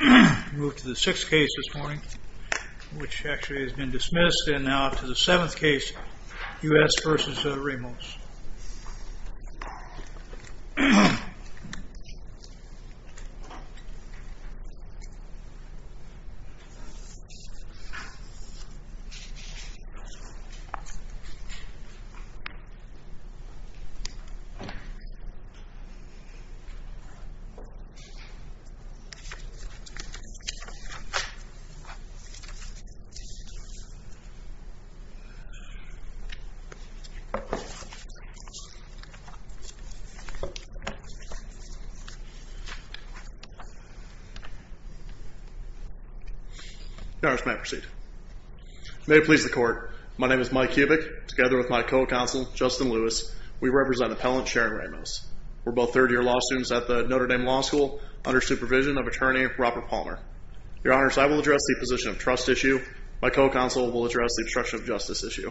We move to the sixth case this morning, which actually has been dismissed, and now to the seventh case, U.S. v. Ramos. May it please the Court, my name is Mike Kubik, together with my co-counsel, Justin Lewis, we represent Appellant Sharon Ramos. We're both third-year law students at the Notre Dame Law School under supervision of Attorney Robert Palmer. Your Honors, I will address the position of trust issue. My co-counsel will address the obstruction of justice issue.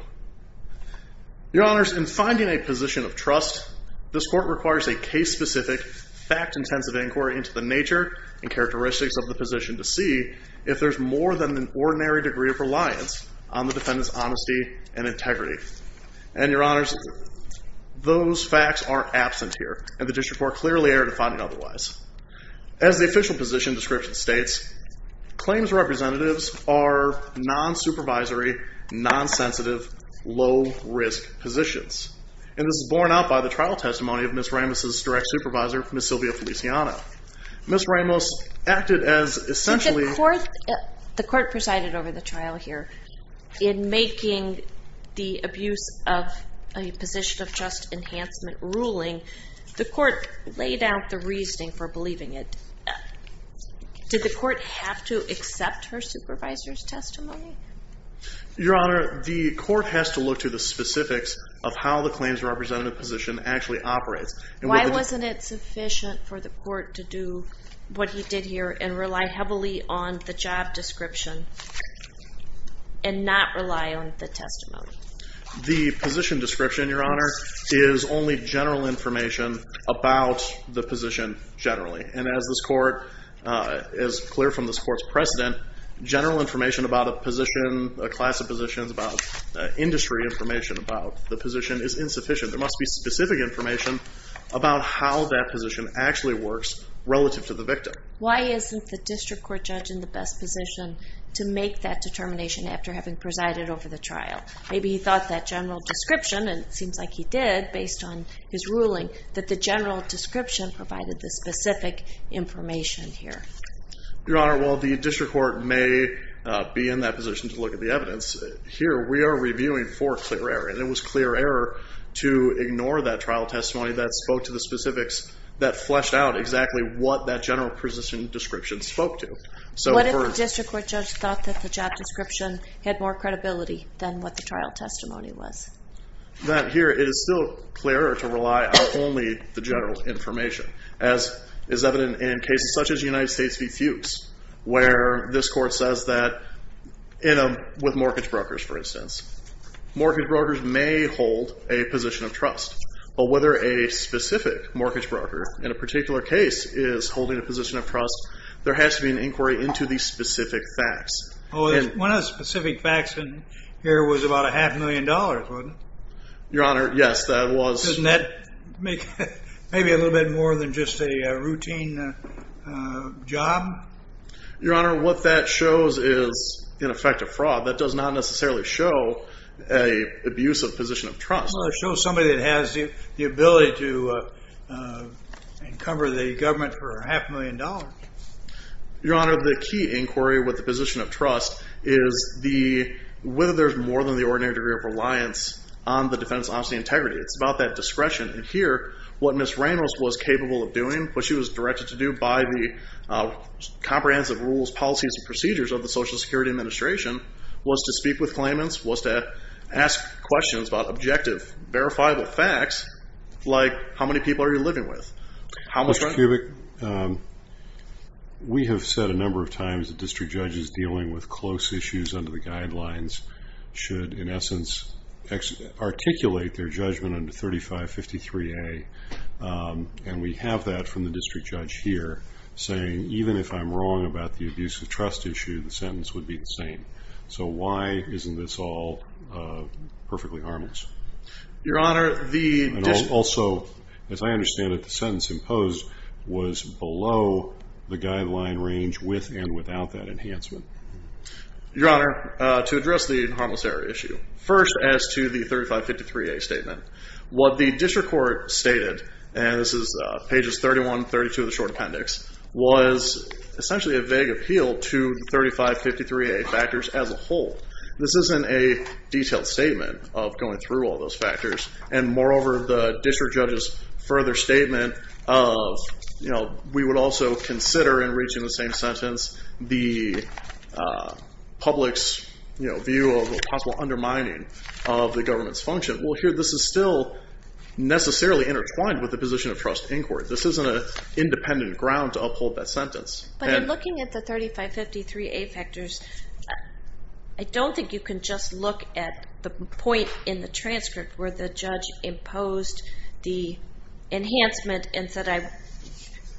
Your Honors, in finding a position of trust, this Court requires a case-specific, fact-intensive inquiry into the nature and characteristics of the position to see if there's more than an ordinary degree of reliance on the defendant's honesty and integrity. And, Your Honors, those facts are absent here, and the District Court clearly erred in finding otherwise. As the official position description states, claims representatives are non-supervisory, non-sensitive, low-risk positions. And this is borne out by the trial testimony of Ms. Ramos' direct supervisor, Ms. Sylvia Feliciano. Ms. Ramos acted as essentially... a position of trust enhancement ruling. The Court laid out the reasoning for believing it. Did the Court have to accept her supervisor's testimony? Your Honor, the Court has to look to the specifics of how the claims representative position actually operates. Why wasn't it sufficient for the Court to do what he did here and rely heavily on the job description and not rely on the testimony? The position description, Your Honor, is only general information about the position generally. And as this Court, as clear from this Court's precedent, general information about a position, a class of positions, about industry information about the position is insufficient. There must be specific information about how that position actually works relative to the victim. Why isn't the district court judge in the best position to make that determination after having presided over the trial? Maybe he thought that general description, and it seems like he did based on his ruling, that the general description provided the specific information here. Your Honor, while the district court may be in that position to look at the evidence, here we are reviewing for clear error. And it was clear error to ignore that trial testimony that spoke to the specifics that fleshed out exactly what that general position description spoke to. What if the district court judge thought that the job description had more credibility than what the trial testimony was? That here, it is still clearer to rely on only the general information, as is evident in cases such as United States v. Fuchs, where this Court says that with mortgage brokers, for instance, mortgage brokers may hold a position of trust. But whether a specific mortgage broker in a particular case is holding a position of trust, there has to be an inquiry into the specific facts. One of the specific facts here was about a half million dollars, wasn't it? Your Honor, yes, that was. Doesn't that make it maybe a little bit more than just a routine job? Your Honor, what that shows is, in effect, a fraud. That does not necessarily show an abusive position of trust. Well, it shows somebody that has the ability to encumber the government for a half million dollars. Your Honor, the key inquiry with the position of trust is whether there's more than the ordinary degree of reliance on the defendant's honesty and integrity. It's about that discretion. And here, what Ms. Reynolds was capable of doing, what she was directed to do by the comprehensive rules, policies, and procedures of the Social Security Administration, was to speak with claimants, was to ask questions about objective, verifiable facts, like, how many people are you living with? Ms. Kubik, we have said a number of times that district judges dealing with close issues under the guidelines should, in essence, articulate their judgment under 3553A, and we have that from the district judge here, saying, even if I'm wrong about the abuse of trust issue, the sentence would be the same. So why isn't this all perfectly harmless? Your Honor, the district judge. And also, as I understand it, the sentence imposed was below the guideline range with and without that enhancement. Your Honor, to address the harmless error issue. First, as to the 3553A statement, what the district court stated, and this is pages 31, 32 of the short appendix, was essentially a vague appeal to the 3553A factors as a whole. This isn't a detailed statement of going through all those factors, and moreover, the district judge's further statement of, you know, we would also consider, in reaching the same sentence, the public's, you know, view of a possible undermining of the government's function. Well, here, this is still necessarily intertwined with the position of trust in court. This isn't an independent ground to uphold that sentence. But in looking at the 3553A factors, I don't think you can just look at the point in the transcript where the judge imposed the enhancement and said,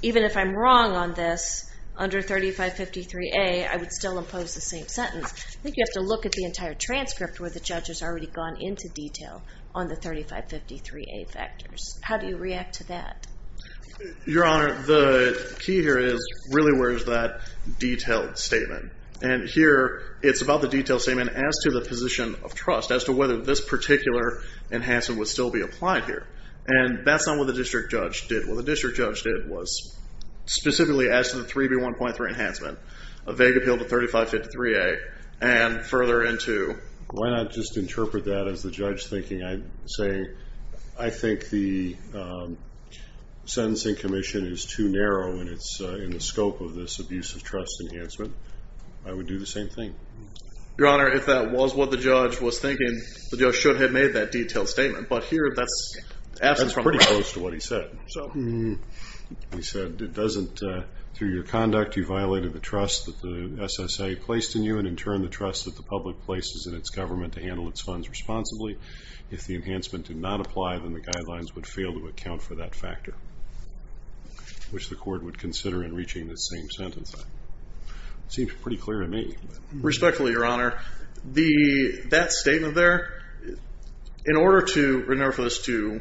even if I'm wrong on this, under 3553A, I would still impose the same sentence. I think you have to look at the entire transcript where the judge has already gone into detail on the 3553A factors. How do you react to that? Your Honor, the key here is, really, where is that detailed statement? And here, it's about the detailed statement as to the position of trust, as to whether this particular enhancement would still be applied here. And that's not what the district judge did. What the district judge did was specifically as to the 3B1.3 enhancement, a vague appeal to 3553A, and further into why not just interpret that as the judge thinking, saying, I think the sentencing commission is too narrow in the scope of this abusive trust enhancement. I would do the same thing. Your Honor, if that was what the judge was thinking, the judge should have made that detailed statement. But here, that's absent from the ground. That's pretty close to what he said. He said, it doesn't, through your conduct, you violated the trust that the SSA placed in you, and in turn, the trust that the public places in its government to handle its funds responsibly. If the enhancement did not apply, then the guidelines would fail to account for that factor, which the court would consider in reaching the same sentencing. It seems pretty clear to me. Respectfully, your Honor, that statement there, in order for this to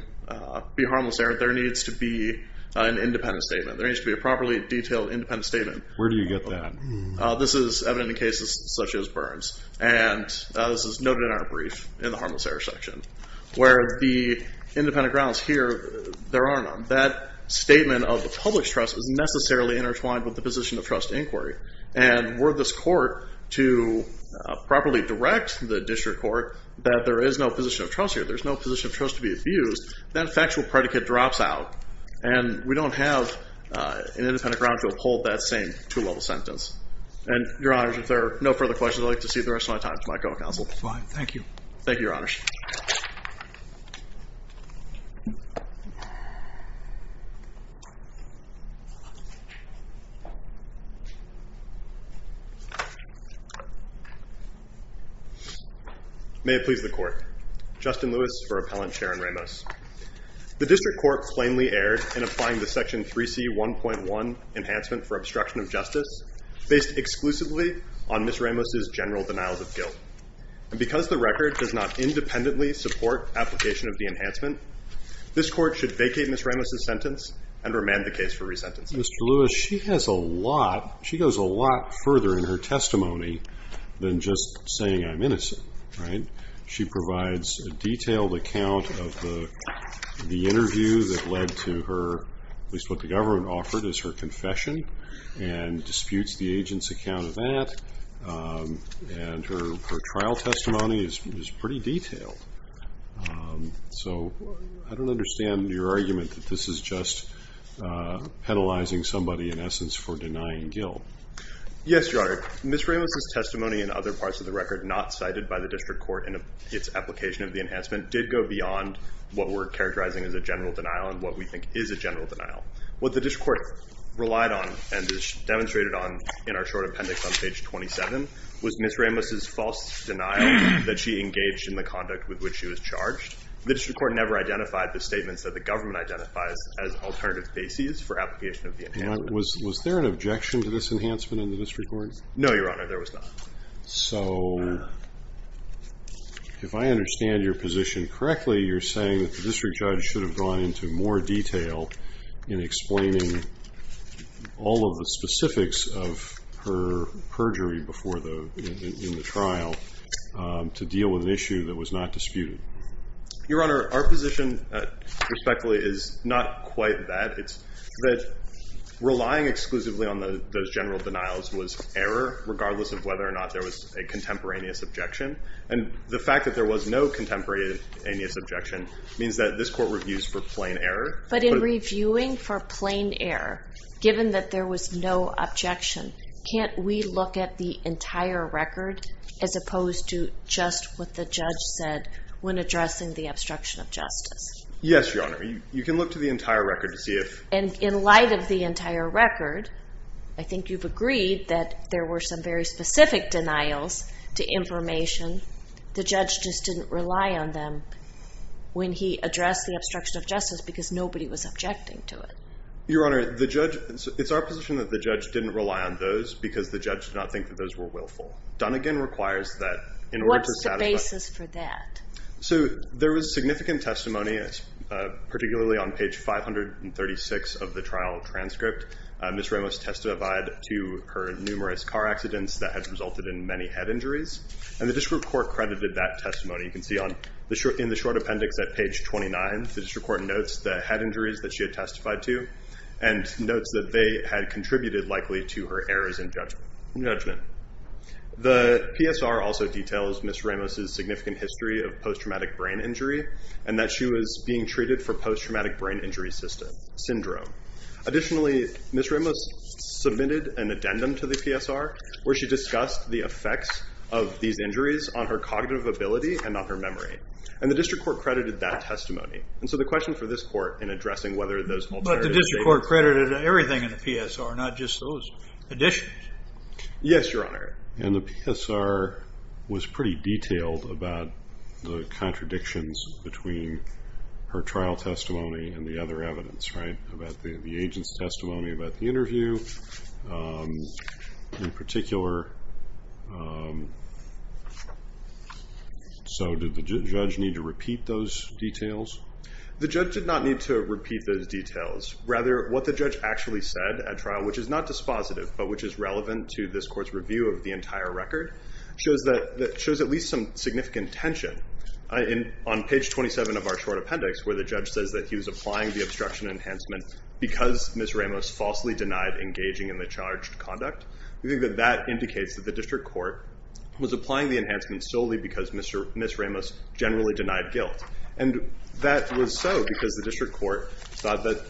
be harmless error, there needs to be an independent statement. There needs to be a properly detailed independent statement. Where do you get that? This is evident in cases such as Burns. And this is noted in our brief in the harmless error section. Where the independent grounds here, there are none. That statement of the public's trust is necessarily intertwined with the position of trust inquiry. And were this court to properly direct the district court that there is no position of trust here, there's no position of trust to be abused, that factual predicate drops out. And we don't have an independent ground to uphold that same two-level sentence. And, your Honor, if there are no further questions, I'd like to cede the rest of my time to my co-counsel. Fine. Thank you. Thank you, your Honor. May it please the Court. Justin Lewis for Appellant, Chair and Ramos. The district court plainly erred in applying the Section 3C1.1 Enhancement for Obstruction of Justice based exclusively on Ms. Ramos' general denial of guilt. And because the record does not independently support application of the enhancement, this court should vacate Ms. Ramos' sentence and remand the case for resentencing. Mr. Lewis, she has a lot, she goes a lot further in her testimony than just saying I'm innocent, right? She provides a detailed account of the interview that led to her, at least what the government offered as her confession, and disputes the agent's account of that. And her trial testimony is pretty detailed. So I don't understand your argument that this is just penalizing somebody, in essence, for denying guilt. Yes, your Honor. Your Honor, Ms. Ramos' testimony and other parts of the record not cited by the district court in its application of the enhancement did go beyond what we're characterizing as a general denial and what we think is a general denial. What the district court relied on and demonstrated on in our short appendix on page 27 was Ms. Ramos' false denial that she engaged in the conduct with which she was charged. The district court never identified the statements that the government identifies as alternative bases for application of the enhancement. Was there an objection to this enhancement in the district court? No, your Honor, there was not. So if I understand your position correctly, you're saying that the district judge should have gone into more detail in explaining all of the specifics of her perjury in the trial to deal with an issue that was not disputed. Your Honor, our position, respectfully, is not quite that. It's that relying exclusively on those general denials was error, regardless of whether or not there was a contemporaneous objection. And the fact that there was no contemporaneous objection means that this court reviews for plain error. But in reviewing for plain error, given that there was no objection, can't we look at the entire record as opposed to just what the judge said when addressing the obstruction of justice? Yes, your Honor. You can look to the entire record to see if... And in light of the entire record, I think you've agreed that there were some very specific denials to information. The judge just didn't rely on them when he addressed the obstruction of justice because nobody was objecting to it. Your Honor, it's our position that the judge didn't rely on those because the judge did not think that those were willful. Dunnegan requires that in order to satisfy... What's the basis for that? So there was significant testimony, particularly on page 536 of the trial transcript. Ms. Ramos testified to her numerous car accidents that had resulted in many head injuries. And the district court credited that testimony. You can see in the short appendix at page 29, the district court notes the head injuries that she had testified to and notes that they had contributed likely to her errors in judgment. The PSR also details Ms. Ramos' significant history of post-traumatic brain injury and that she was being treated for post-traumatic brain injury syndrome. Additionally, Ms. Ramos submitted an addendum to the PSR where she discussed the effects of these injuries on her cognitive ability and on her memory. And the district court credited that testimony. And so the question for this court in addressing whether those alternatives... But the district court credited everything in the PSR, not just those additions. Yes, Your Honor. And the PSR was pretty detailed about the contradictions between her trial testimony and the other evidence, right? About the agent's testimony, about the interview in particular. So did the judge need to repeat those details? The judge did not need to repeat those details. Rather, what the judge actually said at trial, which is not dispositive, but which is relevant to this court's review of the entire record, shows at least some significant tension. On page 27 of our short appendix, where the judge says that he was applying the obstruction enhancement because Ms. Ramos falsely denied engaging in the charged conduct, we think that that indicates that the district court was applying the enhancement solely because Ms. Ramos generally denied guilt. And that was so because the district court thought that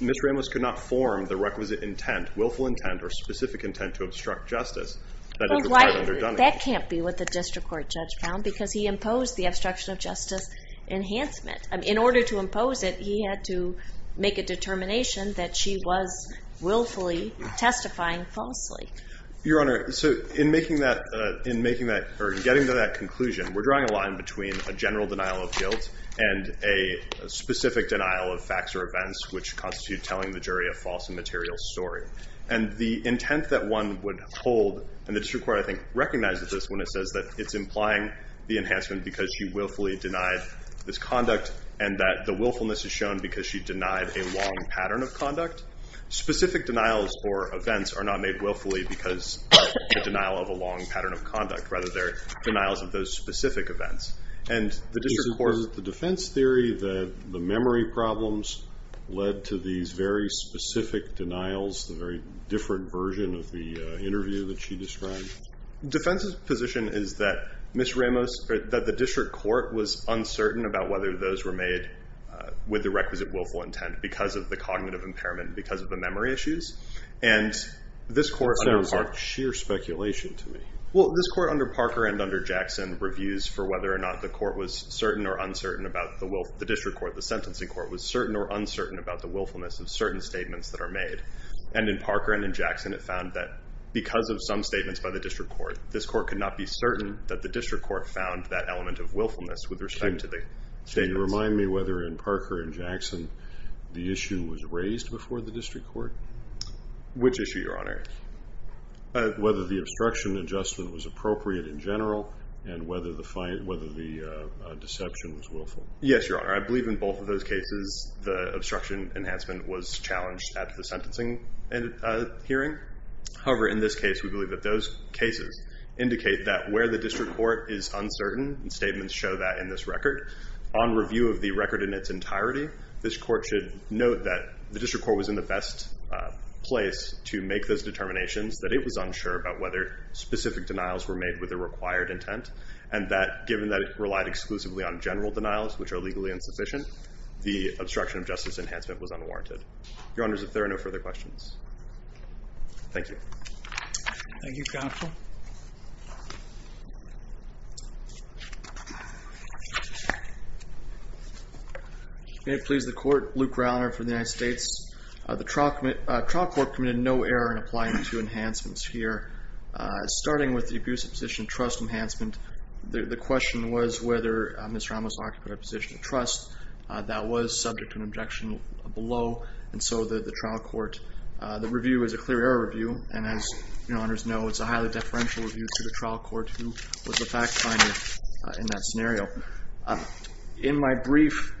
Ms. Ramos could not form the requisite intent, willful intent or specific intent to obstruct justice, that it was quite underdone. That can't be what the district court judge found because he imposed the obstruction of justice enhancement. In order to impose it, he had to make a determination that she was willfully testifying falsely. Your Honor, so in making that... In making that or getting to that conclusion, we're drawing a line between a general denial of guilt and a specific denial of facts or events which constitute telling the jury a false and material story. And the intent that one would hold, and the district court, I think, recognizes this when it says that it's implying the enhancement because she willfully denied this conduct and that the willfulness is shown because she denied a long pattern of conduct. Specific denials or events are not made willfully because of the denial of a long pattern of conduct. Rather, they're denials of those specific events. And the district court... led to these very specific denials, the very different version of the interview that she described? Defense's position is that Ms. Ramos... that the district court was uncertain about whether those were made with the requisite willful intent because of the cognitive impairment, because of the memory issues. And this court... It sounds like sheer speculation to me. Well, this court under Parker and under Jackson reviews for whether or not the court was certain or uncertain about the will... the district court, the sentencing court, was certain or uncertain about the willfulness of certain statements that are made. And in Parker and in Jackson, it found that because of some statements by the district court, this court could not be certain that the district court found that element of willfulness with respect to the statements. Can you remind me whether in Parker and Jackson the issue was raised before the district court? Which issue, Your Honor? Whether the obstruction adjustment was appropriate in general and whether the deception was willful. Yes, Your Honor. I believe in both of those cases the obstruction enhancement was challenged at the sentencing hearing. However, in this case, we believe that those cases indicate that where the district court is uncertain, and statements show that in this record, on review of the record in its entirety, this court should note that the district court was in the best place to make those determinations, that it was unsure about whether specific denials were made with a required intent, and that given that it relied exclusively on general denials, which are legally insufficient, the obstruction of justice enhancement was unwarranted. Your Honors, if there are no further questions. Thank you. Thank you, Counsel. May it please the Court. Luke Rauner for the United States. The trial court committed no error in applying the two enhancements here, starting with the abusive position trust enhancement. The question was whether Ms. Ramos occupied a position of trust. That was subject to an objection below, and so the trial court, the review is a clear error review, and as Your Honors know, it's a highly deferential review to the trial court who was the fact finder in that scenario. In my brief,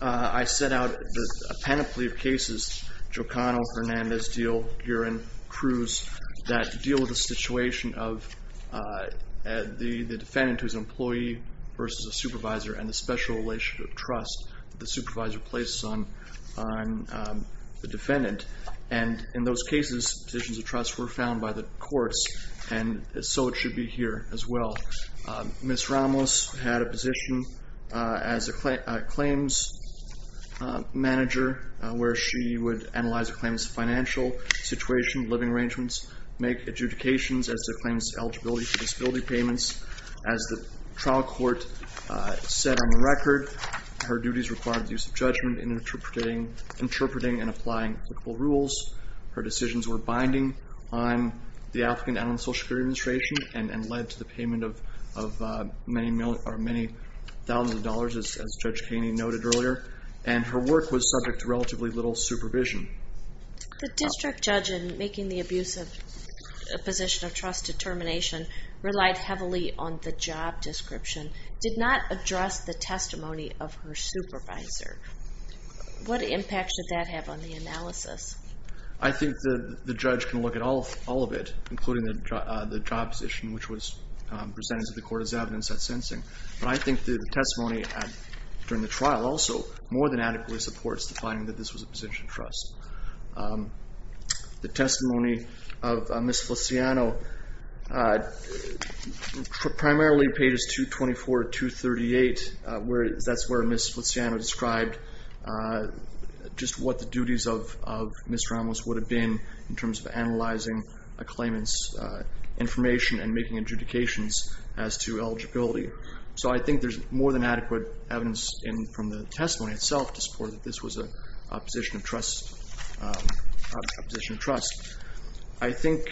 I set out a panoply of cases, Jocano, Hernandez, Diehl, Guerin, Cruz, that deal with the situation of the defendant who's an employee versus a supervisor and the special relationship of trust that the supervisor places on the defendant. And in those cases, positions of trust were found by the courts, and so it should be here as well. Ms. Ramos had a position as a claims manager where she would analyze a claim's financial situation, living arrangements, make adjudications as to a claim's eligibility for disability payments. As the trial court said on the record, her duties required the use of judgment in interpreting and applying applicable rules. Her decisions were binding on the African-American Social Security Administration and led to the payment of many thousands of dollars, as Judge Kaney noted earlier. And her work was subject to relatively little supervision. The district judge in making the abusive position of trust determination relied heavily on the job description, did not address the testimony of her supervisor. What impact should that have on the analysis? I think the judge can look at all of it, including the job position, which was presented to the court as evidence at sensing. But I think the testimony during the trial also more than adequately supports the finding that this was a position of trust. The testimony of Ms. Feliciano, primarily pages 224 to 238, that's where Ms. Feliciano described just what the duties of Ms. Ramos would have been in terms of analyzing a claimant's information and making adjudications as to eligibility. So I think there's more than adequate evidence from the testimony itself to support that this was a position of trust. I think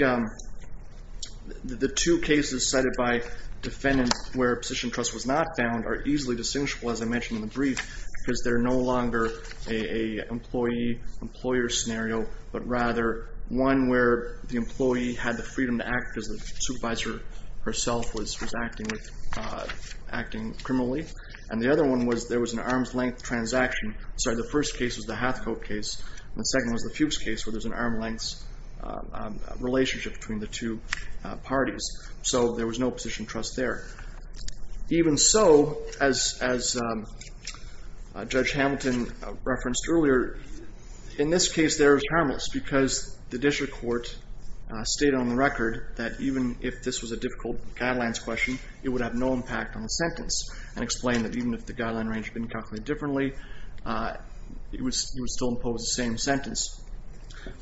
the two cases cited by defendants where a position of trust was not found are easily distinguishable, as I mentioned in the brief, because they're no longer an employee-employer scenario, but rather one where the employee had the freedom to act because the supervisor herself was acting criminally, and the other one was there was an arm's-length transaction. Sorry, the first case was the Hathcote case, and the second was the Fuchs case where there's an arm's-length relationship between the two parties. So there was no position of trust there. Even so, as Judge Hamilton referenced earlier, in this case there was harmless because the district court stated on the record that even if this was a difficult guidelines question, it would have no impact on the sentence and explained that even if the guideline range had been calculated differently, it would still impose the same sentence.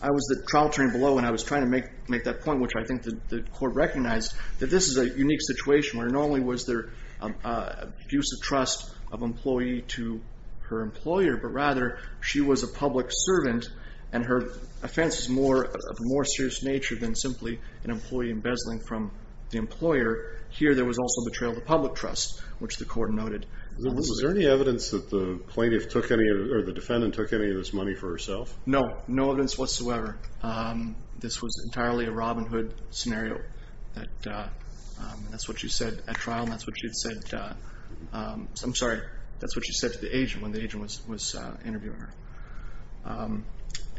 I was the trial attorney below, and I was trying to make that point, which I think the court recognized, that this is a unique situation where not only was there an abuse of trust of employee to her employer, but rather she was a public servant and her offense is of a more serious nature than simply an employee embezzling from the employer. Here there was also betrayal of the public trust, which the court noted. Was there any evidence that the plaintiff took any, or the defendant took any of this money for herself? No, no evidence whatsoever. This was entirely a Robin Hood scenario. That's what she said at trial, and that's what she had said... I'm sorry, that's what she said to the agent when the agent was interviewing her.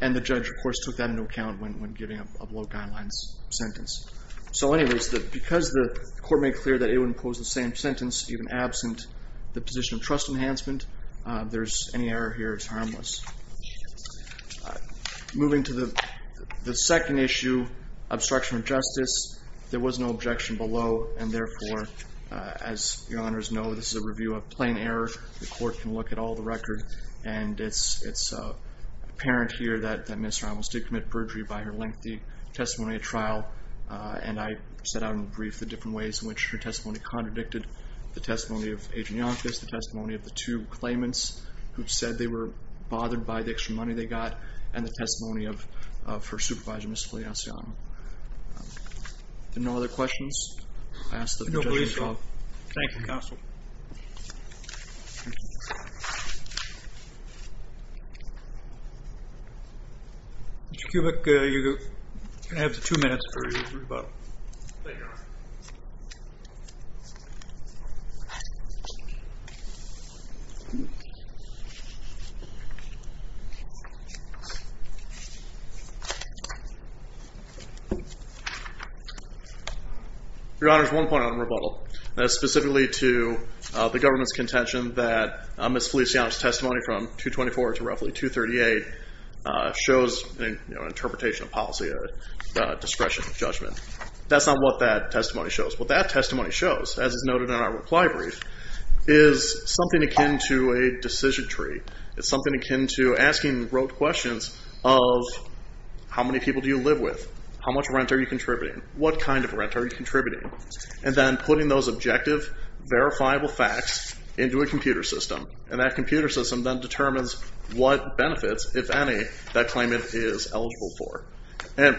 And the judge, of course, took that into account when giving a below-guidelines sentence. So anyways, because the court made clear that it would impose the same sentence even absent the position of trust enhancement, any error here is harmless. Moving to the second issue, obstruction of justice, there was no objection below, and therefore, as your honors know, this is a review of plain error. The court can look at all the record, and it's apparent here that Ms. Ramos did commit perjury by her lengthy testimony at trial, and I set out in the brief the different ways in which her testimony contradicted the testimony of Agent Yonkis, the testimony of the two claimants who said they were bothered by the extra money they got, and the testimony of her supervisor, Ms. Feliciano. Are there no other questions? I ask that the judge resolve. Thank you, counsel. Mr. Kubik, you have two minutes for your rebuttal. Your honors, one point on rebuttal. Specifically to the government's contention that testimony from 224 to roughly 238 shows an interpretation of policy, a discretion of judgment. That's not what that testimony shows. What that testimony shows, as is noted in our reply brief, is something akin to a decision tree. It's something akin to asking rote questions of how many people do you live with, how much rent are you contributing, what kind of rent are you contributing, and then putting those objective, verifiable facts into a computer system, and that computer system then determines what benefits, if any, that claimant is eligible for.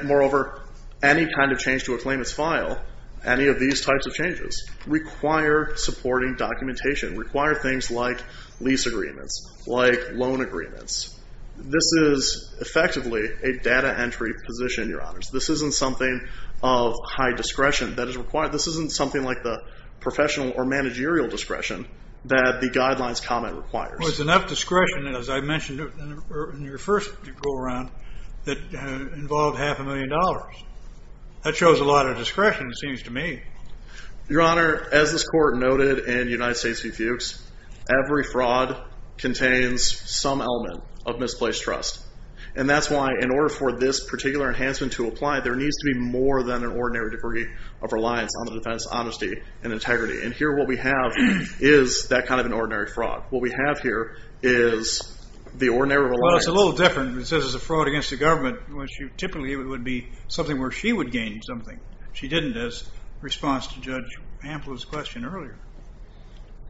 Moreover, any kind of change to a claimant's file, any of these types of changes, require supporting documentation, require things like lease agreements, like loan agreements. This is effectively a data entry position, your honors. This isn't something of high discretion that is required. This isn't something like the professional or managerial discretion that the guidelines comment requires. Well, it's enough discretion, as I mentioned in your first go-around, that involved half a million dollars. That shows a lot of discretion, it seems to me. Your honor, as this court noted in United States v. Fuchs, every fraud contains some element of misplaced trust. And that's why, in order for this particular enhancement to apply, there needs to be more than an ordinary degree of reliance on the defense's honesty and integrity. And here, what we have is that kind of an ordinary fraud. What we have here is the ordinary reliance... Well, it's a little different. It says it's a fraud against the government. Typically, it would be something where she would gain something. She didn't, as a response to Judge Ample's question earlier.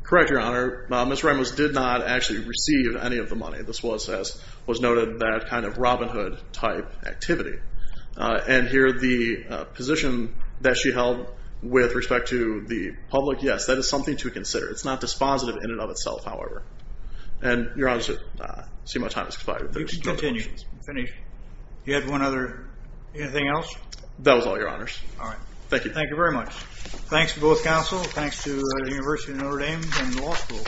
Correct, your honor. Ms. Ramos did not actually receive any of the money. This was, as was noted, that kind of Robin Hood-type activity. And here, the position that she held with respect to the public, yes, that is something to consider. It's not dispositive in and of itself, however. Your honor, I see my time has expired. You can continue. Finish. Do you have anything else? That was all, your honors. All right. Thank you. Thank you very much. Thanks to both counsel. Thanks to the University of Notre Dame and the law school.